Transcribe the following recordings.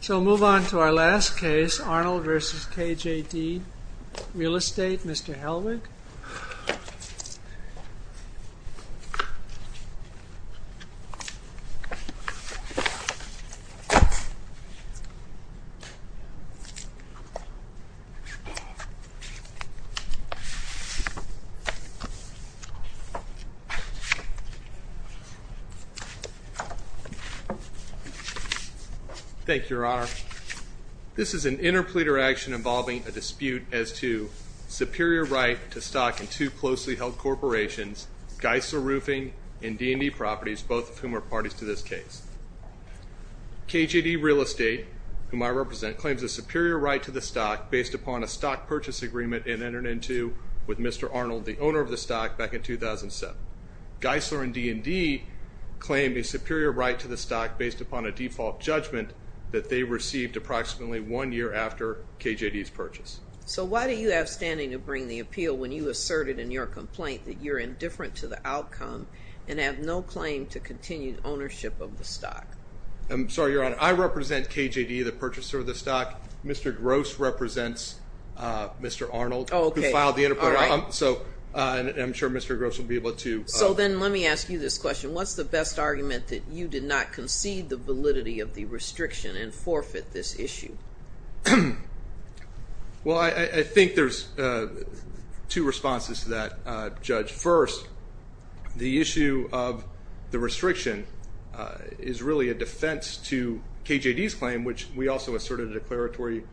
So we'll move on to our last case, Arnold v. KJD Real Estate, Mr. Helwig. Thank you, Your Honor. This is an interpleader action involving a dispute as to superior right to stock in two closely held corporations, Geisler Roofing and D&D Properties, both of whom are parties to this case. KJD Real Estate, whom I represent, claims a superior right to the stock based upon a stock purchase agreement it entered into with Mr. Arnold, the owner of the stock, back in 2007. Geisler and D&D claim a superior right to the stock based upon a default judgment that they received approximately one year after KJD's purchase. So why do you have standing to bring the appeal when you asserted in your complaint that you're indifferent to the outcome and have no claim to continued ownership of the stock? I'm sorry, Your Honor. I represent KJD, the purchaser of the stock. Mr. Gross represents Mr. Arnold, who filed the interpleader. So I'm sure Mr. Gross will be able to... So then let me ask you this question. What's the best argument that you did not concede the validity of the restriction and forfeit this issue? Well, I think there's two responses to that, Judge. First, the issue of the restriction is really a defense to KJD's claim, which we also asserted a declaratory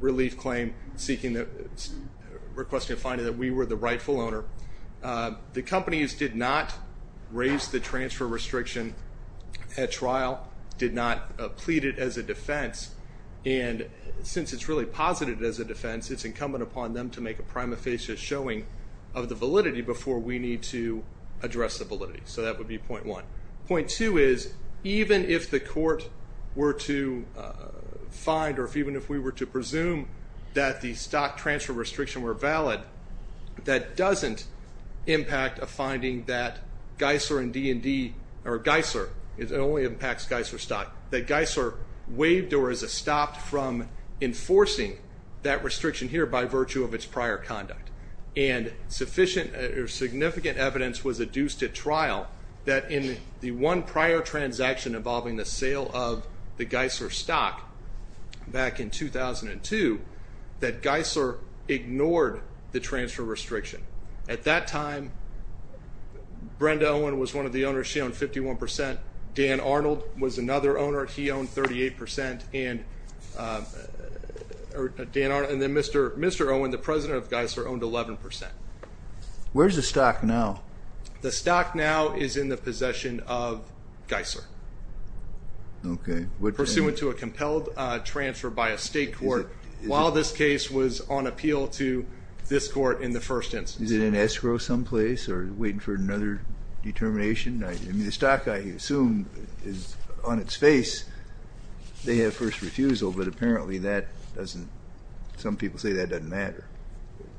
relief claim seeking the...requesting finding that we were the rightful owner. The companies did not raise the transfer restriction at trial, did not plead it as a defense. And since it's really posited as a defense, it's incumbent upon them to make a prima facie showing of the validity before we need to address the validity. So that would be point one. Point two is, even if the court were to find or even if we were to presume that the stock transfer restriction were valid, that doesn't impact a finding that Geisler and D&D or Geisler, it only impacts Geisler stock. That Geisler waived or is stopped from enforcing that restriction here by virtue of its prior conduct. And sufficient or significant evidence was adduced at trial that in the one prior transaction involving the sale of the Geisler stock back in 2002, that Geisler ignored the transfer restriction. At that time, Brenda Owen was one of the owners. She owned 51%. Dan Arnold was another owner. He owned 38%. Dan Arnold and then Mr. Owen, the president of Geisler, owned 11%. Where's the stock now? The stock now is in the possession of Geisler. Okay. Pursuant to a compelled transfer by a state court while this case was on appeal to this court in the first instance. Is it in escrow someplace or waiting for another determination? I mean, the stock, I assume, is on its face. They have first refusal, but apparently that doesn't, some people say that doesn't matter.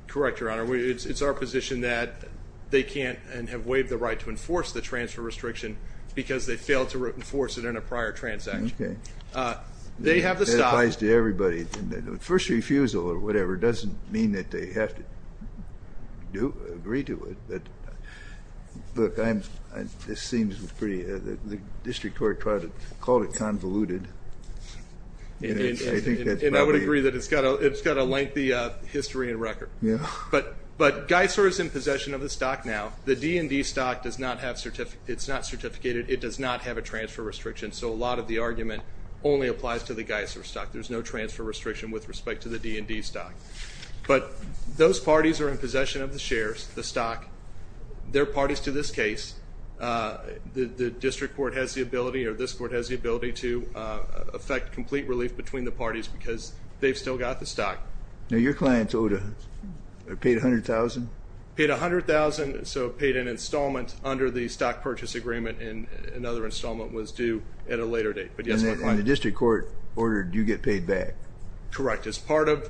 Correct, Your Honor. It's our position that they can't and have waived the right to enforce the transfer restriction because they failed to enforce it in a prior transaction. Okay. They have the stock. That applies to everybody. First refusal or whatever doesn't mean that they have to agree to it. Look, this seems pretty, the district court called it convoluted. And I would agree that it's got a lengthy history and record. Yeah. But Geisler is in possession of the stock now. The D&D stock does not have, it's not certificated. It does not have a transfer restriction, so a lot of the argument only applies to the Geisler stock. There's no transfer restriction with respect to the D&D stock. But those parties are in possession of the shares, the stock. They're parties to this case. The district court has the ability or this court has the ability to affect complete relief between the parties because they've still got the stock. Now, your client's owed, paid $100,000? Paid $100,000, so paid an installment under the stock purchase agreement, and another installment was due at a later date. And the district court ordered you get paid back. Correct. As part of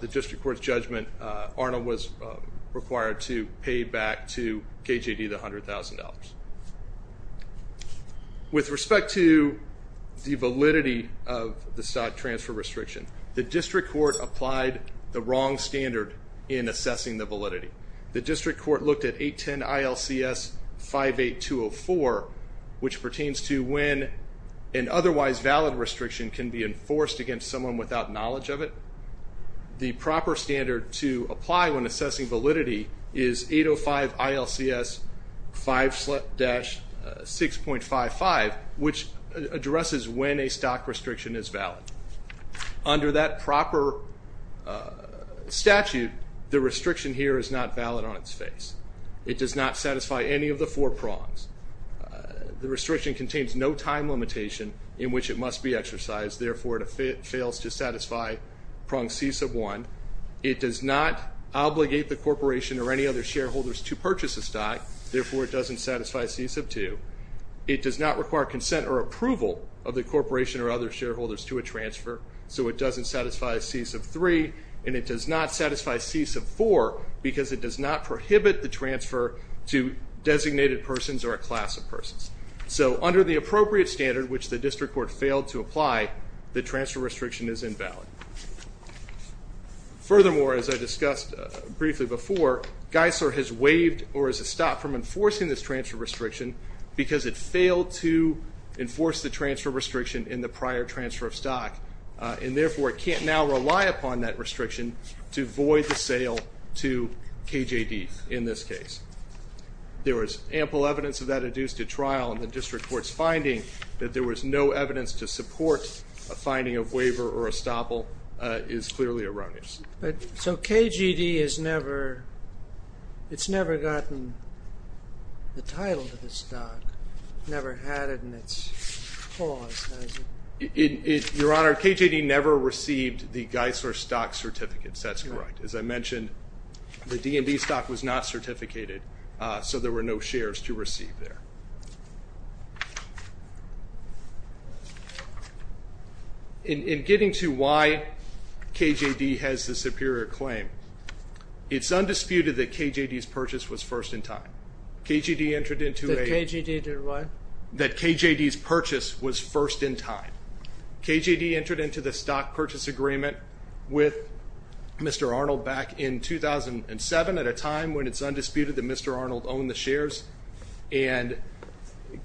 the district court's judgment, Arnold was required to pay back to KJD the $100,000. With respect to the validity of the stock transfer restriction, the district court applied the wrong standard in assessing the validity. The district court looked at 810 ILCS 58204, which pertains to when an otherwise valid restriction can be enforced against someone without knowledge of it. The proper standard to apply when assessing validity is 805 ILCS 5-6.55, which addresses when a stock restriction is valid. Under that proper statute, the restriction here is not valid on its face. It does not satisfy any of the four prongs. The restriction contains no time limitation in which it must be exercised. Therefore, it fails to satisfy prong C1. It does not obligate the corporation or any other shareholders to purchase a stock. Therefore, it doesn't satisfy C2. It does not require consent or approval of the corporation or other shareholders to a transfer. So it doesn't satisfy C3. And it does not satisfy C4 because it does not prohibit the transfer to designated persons or a class of persons. So under the appropriate standard, which the district court failed to apply, the transfer restriction is invalid. Furthermore, as I discussed briefly before, Geisler has waived or has stopped from enforcing this transfer restriction because it failed to enforce the transfer restriction in the prior transfer of stock. And therefore, it can't now rely upon that restriction to void the sale to KJD in this case. There was ample evidence of that adduced to trial in the district court's finding that there was no evidence to support a finding of waiver or estoppel is clearly erroneous. So KJD has never gotten the title to the stock, never had it in its clause, has it? Your Honor, KJD never received the Geisler stock certificates. That's correct. As I mentioned, the DMV stock was not certificated, so there were no shares to receive there. In getting to why KJD has the superior claim, it's undisputed that KJD's purchase was first in time. KJD entered into a- That KJD did what? That KJD's purchase was first in time. KJD entered into the stock purchase agreement with Mr. Arnold back in 2007 at a time when it's undisputed that Mr. Arnold owned the shares. And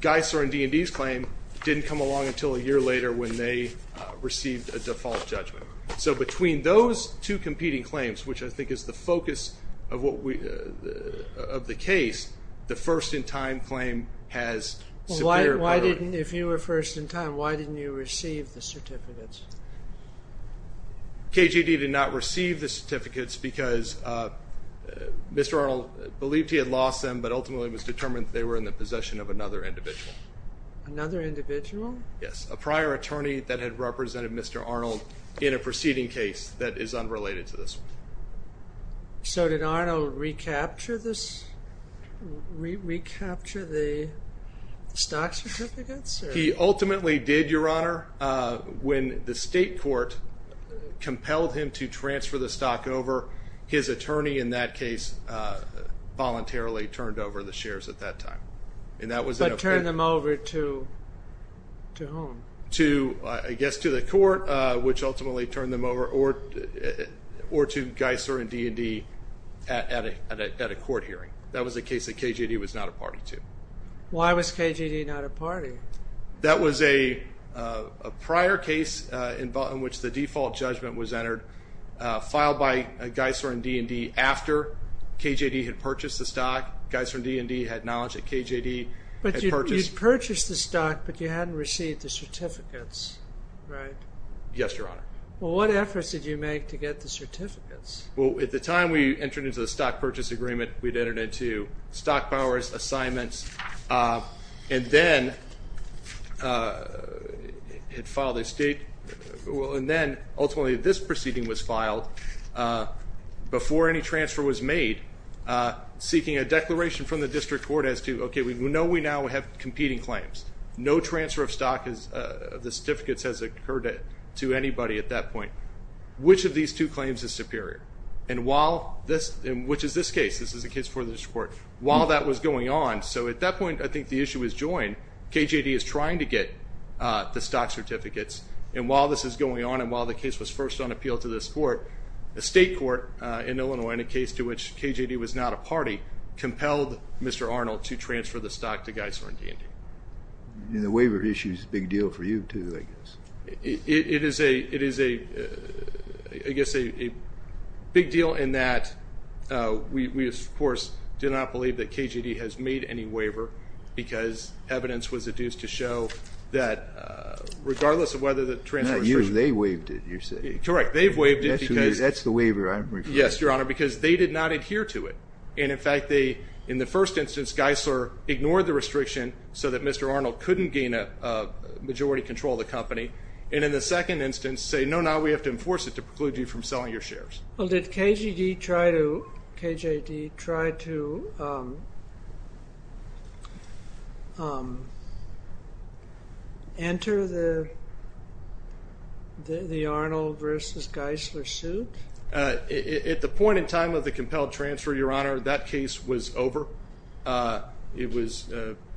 Geisler and D&D's claim didn't come along until a year later when they received a default judgment. So between those two competing claims, which I think is the focus of the case, the first in time claim has superior priority. Your Honor, if you were first in time, why didn't you receive the certificates? KJD did not receive the certificates because Mr. Arnold believed he had lost them, but ultimately it was determined that they were in the possession of another individual. Another individual? Yes, a prior attorney that had represented Mr. Arnold in a preceding case that is unrelated to this one. So did Arnold recapture the stock certificates? He ultimately did, Your Honor. When the state court compelled him to transfer the stock over, his attorney in that case voluntarily turned over the shares at that time. But turned them over to whom? I guess to the court, which ultimately turned them over, or to Geisler and D&D at a court hearing. That was a case that KJD was not a party to. Why was KJD not a party? That was a prior case in which the default judgment was entered, filed by Geisler and D&D after KJD had purchased the stock. Geisler and D&D had knowledge that KJD had purchased. You purchased the stock, but you hadn't received the certificates, right? Yes, Your Honor. Well, what efforts did you make to get the certificates? Well, at the time we entered into the stock purchase agreement, we'd entered into stock powers, assignments, and then ultimately this proceeding was filed before any transfer was made, seeking a declaration from the district court as to, okay, we know we now have competing claims. No transfer of the certificates has occurred to anybody at that point. Which of these two claims is superior? And which is this case? This is a case before the district court. While that was going on, so at that point I think the issue was joined, KJD is trying to get the stock certificates. And while this is going on, and while the case was first on appeal to this court, a state court in Illinois, in a case to which KJD was not a party, compelled Mr. Arnold to transfer the stock to Geisler and D&D. And the waiver issue is a big deal for you, too, I guess. It is a big deal in that we, of course, do not believe that KJD has made any waiver because evidence was adduced to show that regardless of whether the transfer was made. Not you, they waived it, you're saying. Correct. They've waived it because they did not adhere to it. And, in fact, in the first instance, Geisler ignored the restriction so that Mr. Arnold couldn't gain majority control of the company. And in the second instance, say, no, no, we have to enforce it to preclude you from selling your shares. Well, did KJD try to enter the Arnold versus Geisler suit? At the point in time of the compelled transfer, Your Honor, that case was over. It was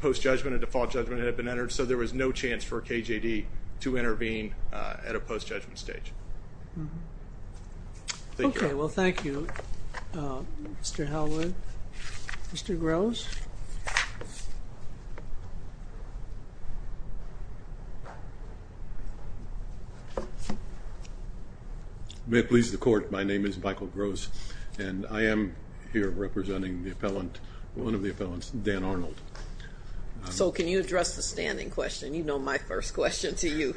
post-judgment, a default judgment had been entered, so there was no chance for KJD to intervene at a post-judgment stage. Okay. Well, thank you, Mr. Hallwood. Mr. Groves? May it please the Court, my name is Michael Groves, and I am here representing the appellant, one of the appellants, Dan Arnold. So can you address the standing question? You know my first question to you.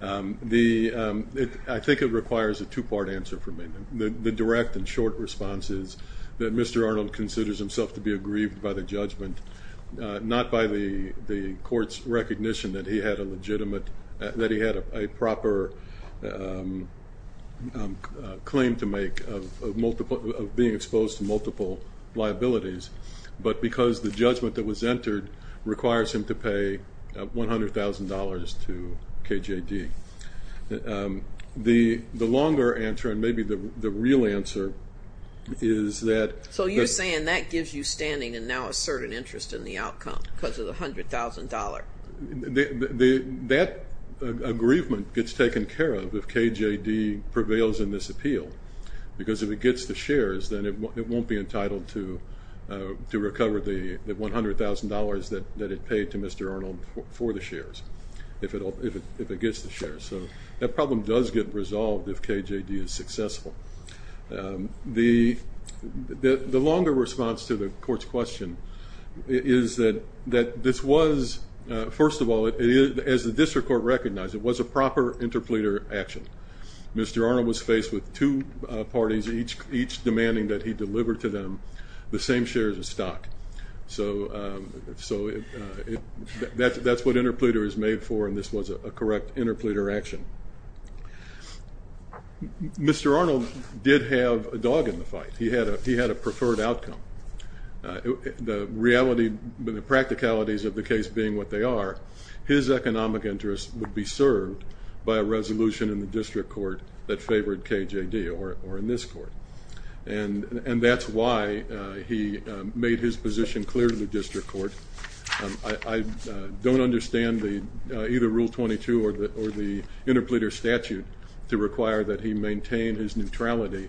I think it requires a two-part answer from me. The direct and short response is that Mr. Arnold considers himself to be aggrieved by the judgment, not by the Court's recognition that he had a legitimate, that he had a proper claim to make of being exposed to multiple liabilities, but because the judgment that was entered requires him to pay $100,000 to KJD. The longer answer, and maybe the real answer, is that. So you're saying that gives you standing and now a certain interest in the outcome because of the $100,000? That aggrievement gets taken care of if KJD prevails in this appeal, because if it gets the shares, then it won't be entitled to recover the $100,000 that it paid to Mr. Arnold for the shares, if it gets the shares. So that problem does get resolved if KJD is successful. The longer response to the Court's question is that this was, first of all, as the District Court recognized, it was a proper interpleader action. Mr. Arnold was faced with two parties, each demanding that he deliver to them the same shares of stock. So that's what interpleader is made for, and this was a correct interpleader action. Mr. Arnold did have a dog in the fight. He had a preferred outcome. The reality, the practicalities of the case being what they are, his economic interest would be served by a resolution in the District Court that favored KJD or in this Court. And that's why he made his position clear to the District Court. I don't understand either Rule 22 or the interpleader statute to require that he maintain his neutrality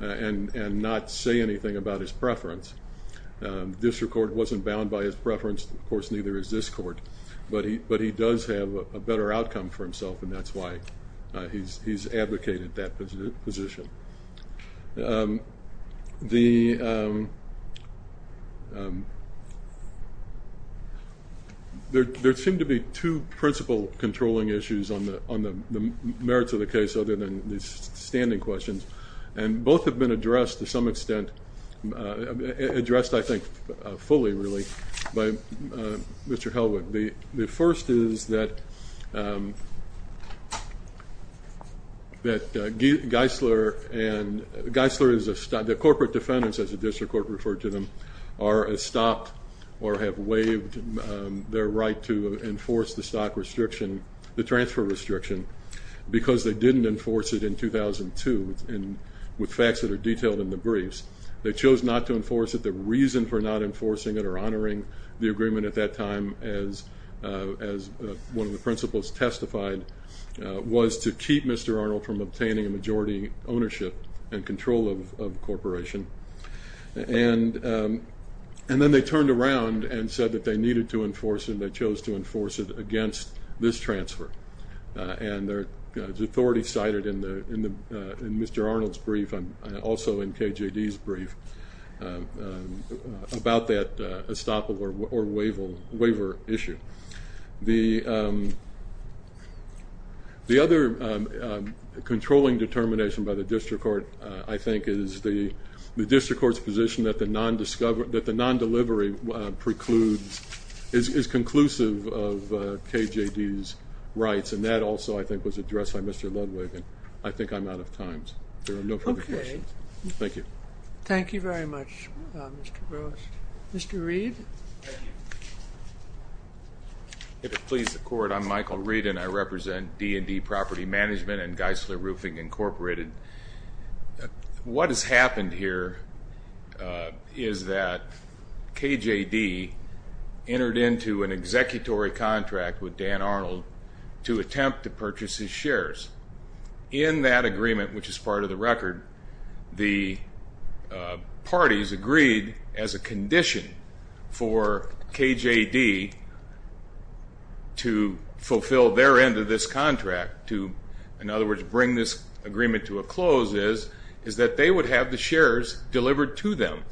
and not say anything about his preference. The District Court wasn't bound by his preference. Of course, neither is this Court, but he does have a better outcome for himself, and that's why he's advocated that position. There seem to be two principle controlling issues on the merits of the case other than these standing questions, and both have been addressed to some extent, addressed, I think, fully, really, by Mr. Helwig. The first is that Geisler and the corporate defendants, as the District Court referred to them, are stopped or have waived their right to enforce the transfer restriction because they didn't enforce it in 2002 with facts that are detailed in the briefs. They chose not to enforce it. The reason for not enforcing it or honoring the agreement at that time, as one of the principles testified, was to keep Mr. Arnold from obtaining a majority ownership and control of the corporation. And then they turned around and said that they needed to enforce it, and they chose to enforce it against this transfer. And the authority cited in Mr. Arnold's brief and also in KJD's brief about that estoppel or waiver issue. The other controlling determination by the District Court, I think, is the District Court's position that the non-delivery precludes, is conclusive of KJD's rights, and that also, I think, was addressed by Mr. Ludwig. I think I'm out of time. There are no further questions. Thank you. Thank you very much, Mr. Gross. Mr. Reed? If it pleases the Court, I'm Michael Reed, and I represent D&D Property Management and Geisler Roofing Incorporated. What has happened here is that KJD entered into an executory contract with Dan Arnold to attempt to purchase his shares. In that agreement, which is part of the record, the parties agreed as a condition for KJD to fulfill their end of this contract, to, in other words, bring this agreement to a close, is that they would have the shares delivered to them.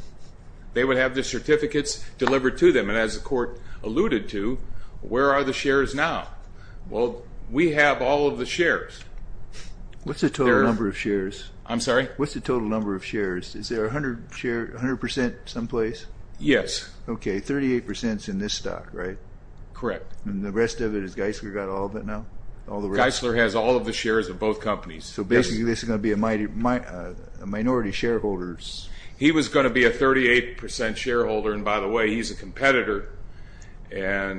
They would have the certificates delivered to them. And as the Court alluded to, where are the shares now? Well, we have all of the shares. What's the total number of shares? I'm sorry? What's the total number of shares? Is there 100% someplace? Yes. Okay, 38% is in this stock, right? Correct. And the rest of it, has Geisler got all of it now? Geisler has all of the shares of both companies. So basically, this is going to be a minority shareholder's? He was going to be a 38% shareholder, and by the way, he's a competitor. Well,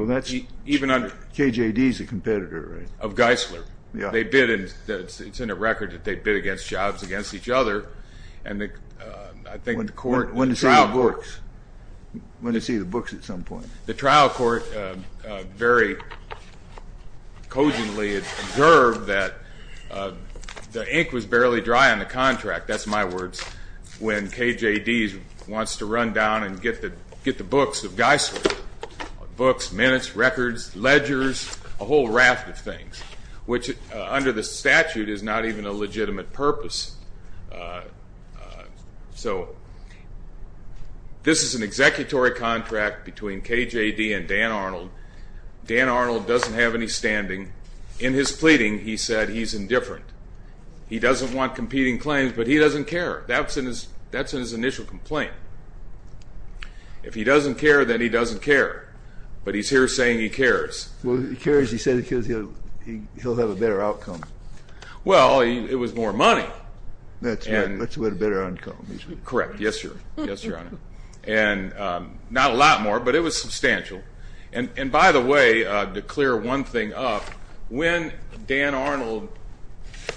KJD is a competitor, right? Of Geisler. Yeah. It's in a record that they bid against jobs against each other. When do you see the books? When do you see the books at some point? The trial court very cogently observed that the ink was barely dry on the contract. That's my words. When KJD wants to run down and get the books of Geisler, books, minutes, records, ledgers, a whole raft of things, which under the statute is not even a legitimate purpose. So this is an executory contract between KJD and Dan Arnold. Dan Arnold doesn't have any standing. In his pleading, he said he's indifferent. He doesn't want competing claims, but he doesn't care. That's in his initial complaint. If he doesn't care, then he doesn't care. But he's here saying he cares. Well, he cares, he said, because he'll have a better outcome. Well, it was more money. That's right. That's what a better outcome is. Correct. Yes, Your Honor. And not a lot more, but it was substantial. And by the way, to clear one thing up, when Dan Arnold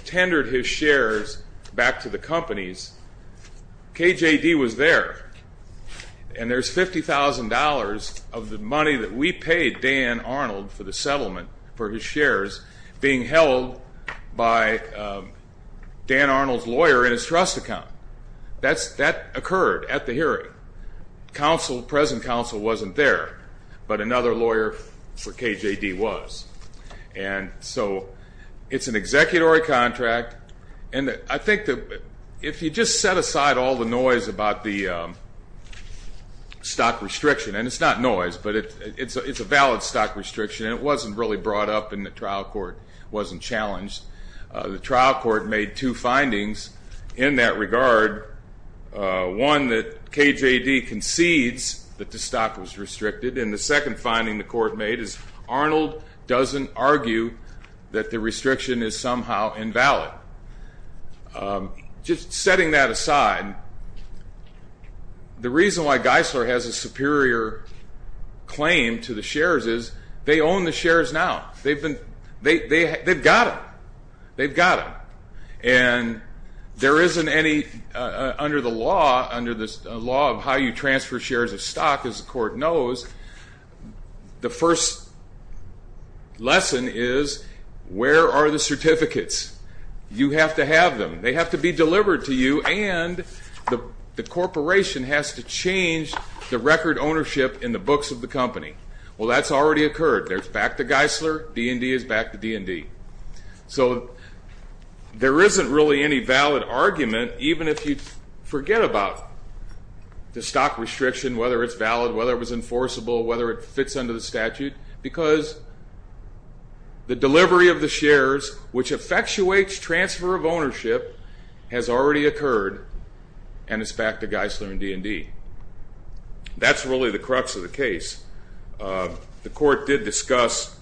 tendered his shares back to the companies, KJD was there, and there's $50,000 of the money that we paid Dan Arnold for the settlement for his shares being held by Dan Arnold's lawyer in his trust account. That occurred at the hearing. The present counsel wasn't there, but another lawyer for KJD was. And so it's an executory contract. And I think that if you just set aside all the noise about the stock restriction, and it's not noise, but it's a valid stock restriction, and it wasn't really brought up in the trial court, wasn't challenged. The trial court made two findings in that regard. One, that KJD concedes that the stock was restricted. And the second finding the court made is Arnold doesn't argue that the restriction is somehow invalid. Just setting that aside, the reason why Geisler has a superior claim to the shares is they own the shares now. They've got them. They've got them. And there isn't any under the law of how you transfer shares of stock, as the court knows, the first lesson is where are the certificates? You have to have them. They have to be delivered to you, and the corporation has to change the record ownership in the books of the company. Well, that's already occurred. There's back to Geisler. D&D is back to D&D. So there isn't really any valid argument, even if you forget about the stock restriction, whether it's valid, whether it was enforceable, whether it fits under the statute, because the delivery of the shares, which effectuates transfer of ownership, has already occurred, and it's back to Geisler and D&D. That's really the crux of the case. The court did discuss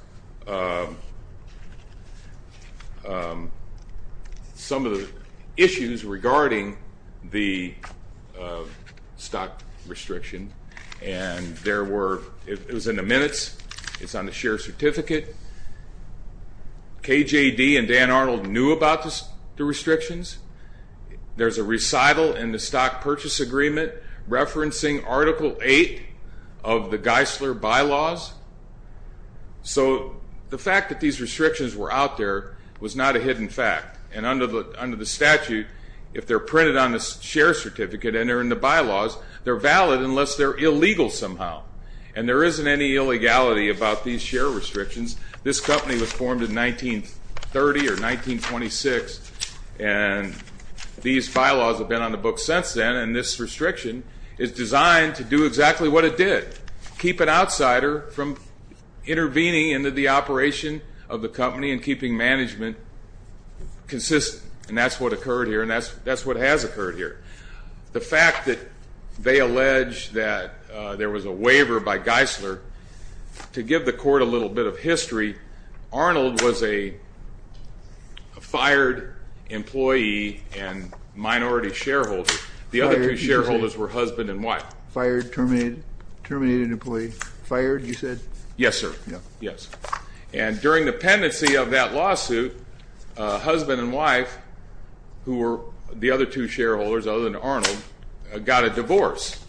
some of the issues regarding the stock restriction, and it was in the minutes. It's on the share certificate. KJD and Dan Arnold knew about the restrictions. There's a recital in the Stock Purchase Agreement referencing Article 8 of the Geisler Bylaws. So the fact that these restrictions were out there was not a hidden fact, and under the statute, if they're printed on the share certificate and they're in the bylaws, they're valid unless they're illegal somehow, and there isn't any illegality about these share restrictions. This company was formed in 1930 or 1926, and these bylaws have been on the books since then, and this restriction is designed to do exactly what it did, keep an outsider from intervening in the operation of the company and keeping management consistent. And that's what occurred here, and that's what has occurred here. The fact that they allege that there was a waiver by Geisler, to give the court a little bit of history, Arnold was a fired employee and minority shareholder. The other two shareholders were husband and wife. Fired, terminated, terminated employee. Fired, you said? Yes, sir. Yes. And during the pendency of that lawsuit, husband and wife, who were the other two shareholders other than Arnold, got a divorce,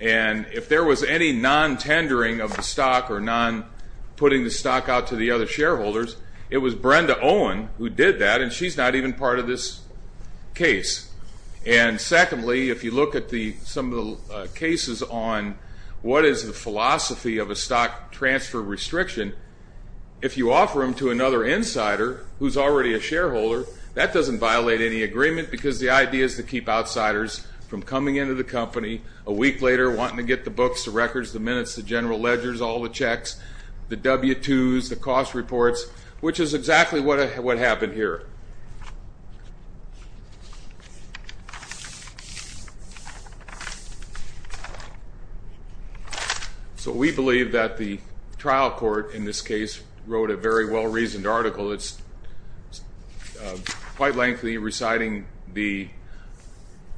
and if there was any non-tendering of the stock or non-putting the stock out to the other shareholders, it was Brenda Owen who did that, and she's not even part of this case. And secondly, if you look at some of the cases on what is the philosophy of a stock transfer restriction, if you offer them to another insider who's already a shareholder, that doesn't violate any agreement because the idea is to keep outsiders from coming into the company a week later, wanting to get the books, the records, the minutes, the general ledgers, all the checks, the W-2s, the cost reports, which is exactly what happened here. So we believe that the trial court in this case wrote a very well-reasoned article. It's quite lengthy, reciting the,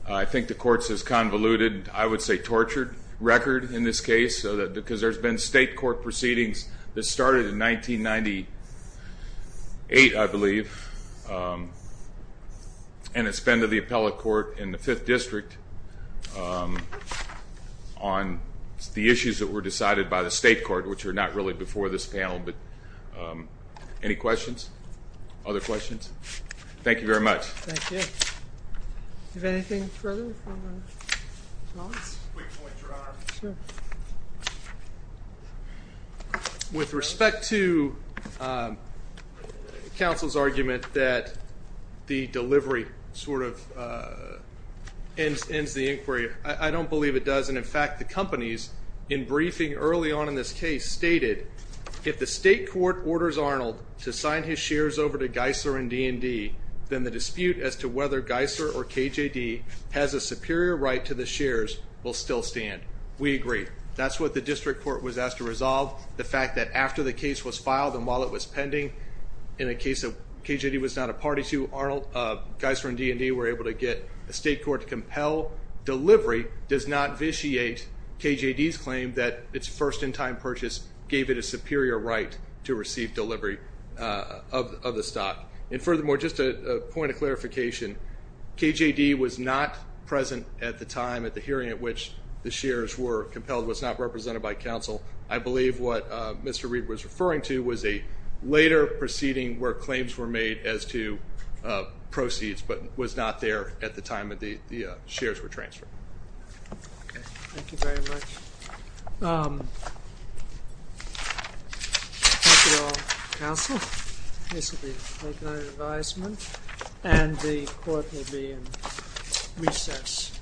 I think the court says convoluted, I would say tortured record in this case because there's been state court proceedings that started in 1998, I believe, and it's been to the appellate court in the Fifth District on the issues that were decided by the state court, which are not really before this panel, but any questions? Other questions? Thank you very much. Thank you. Anything further? Quick point, Your Honor. Sure. With respect to counsel's argument that the delivery sort of ends the inquiry, I don't believe it does, and in fact the companies in briefing early on in this case stated, if the state court orders Arnold to sign his shares over to Geisler and D&D, then the dispute as to whether Geisler or KJD has a superior right to the shares will still stand. We agree. That's what the district court was asked to resolve. The fact that after the case was filed and while it was pending in a case that KJD was not a party to, Geisler and D&D were able to get the state court to compel delivery does not vitiate KJD's claim that its first in-time purchase gave it a superior right to receive delivery of the stock. And furthermore, just a point of clarification, KJD was not present at the time at the hearing at which the shares were compelled, was not represented by counsel. I believe what Mr. Reed was referring to was a later proceeding where claims were made as to proceeds but was not there at the time that the shares were transferred. Okay, thank you very much. Thank you all, counsel. This will be late night advisement and the court will be in recess.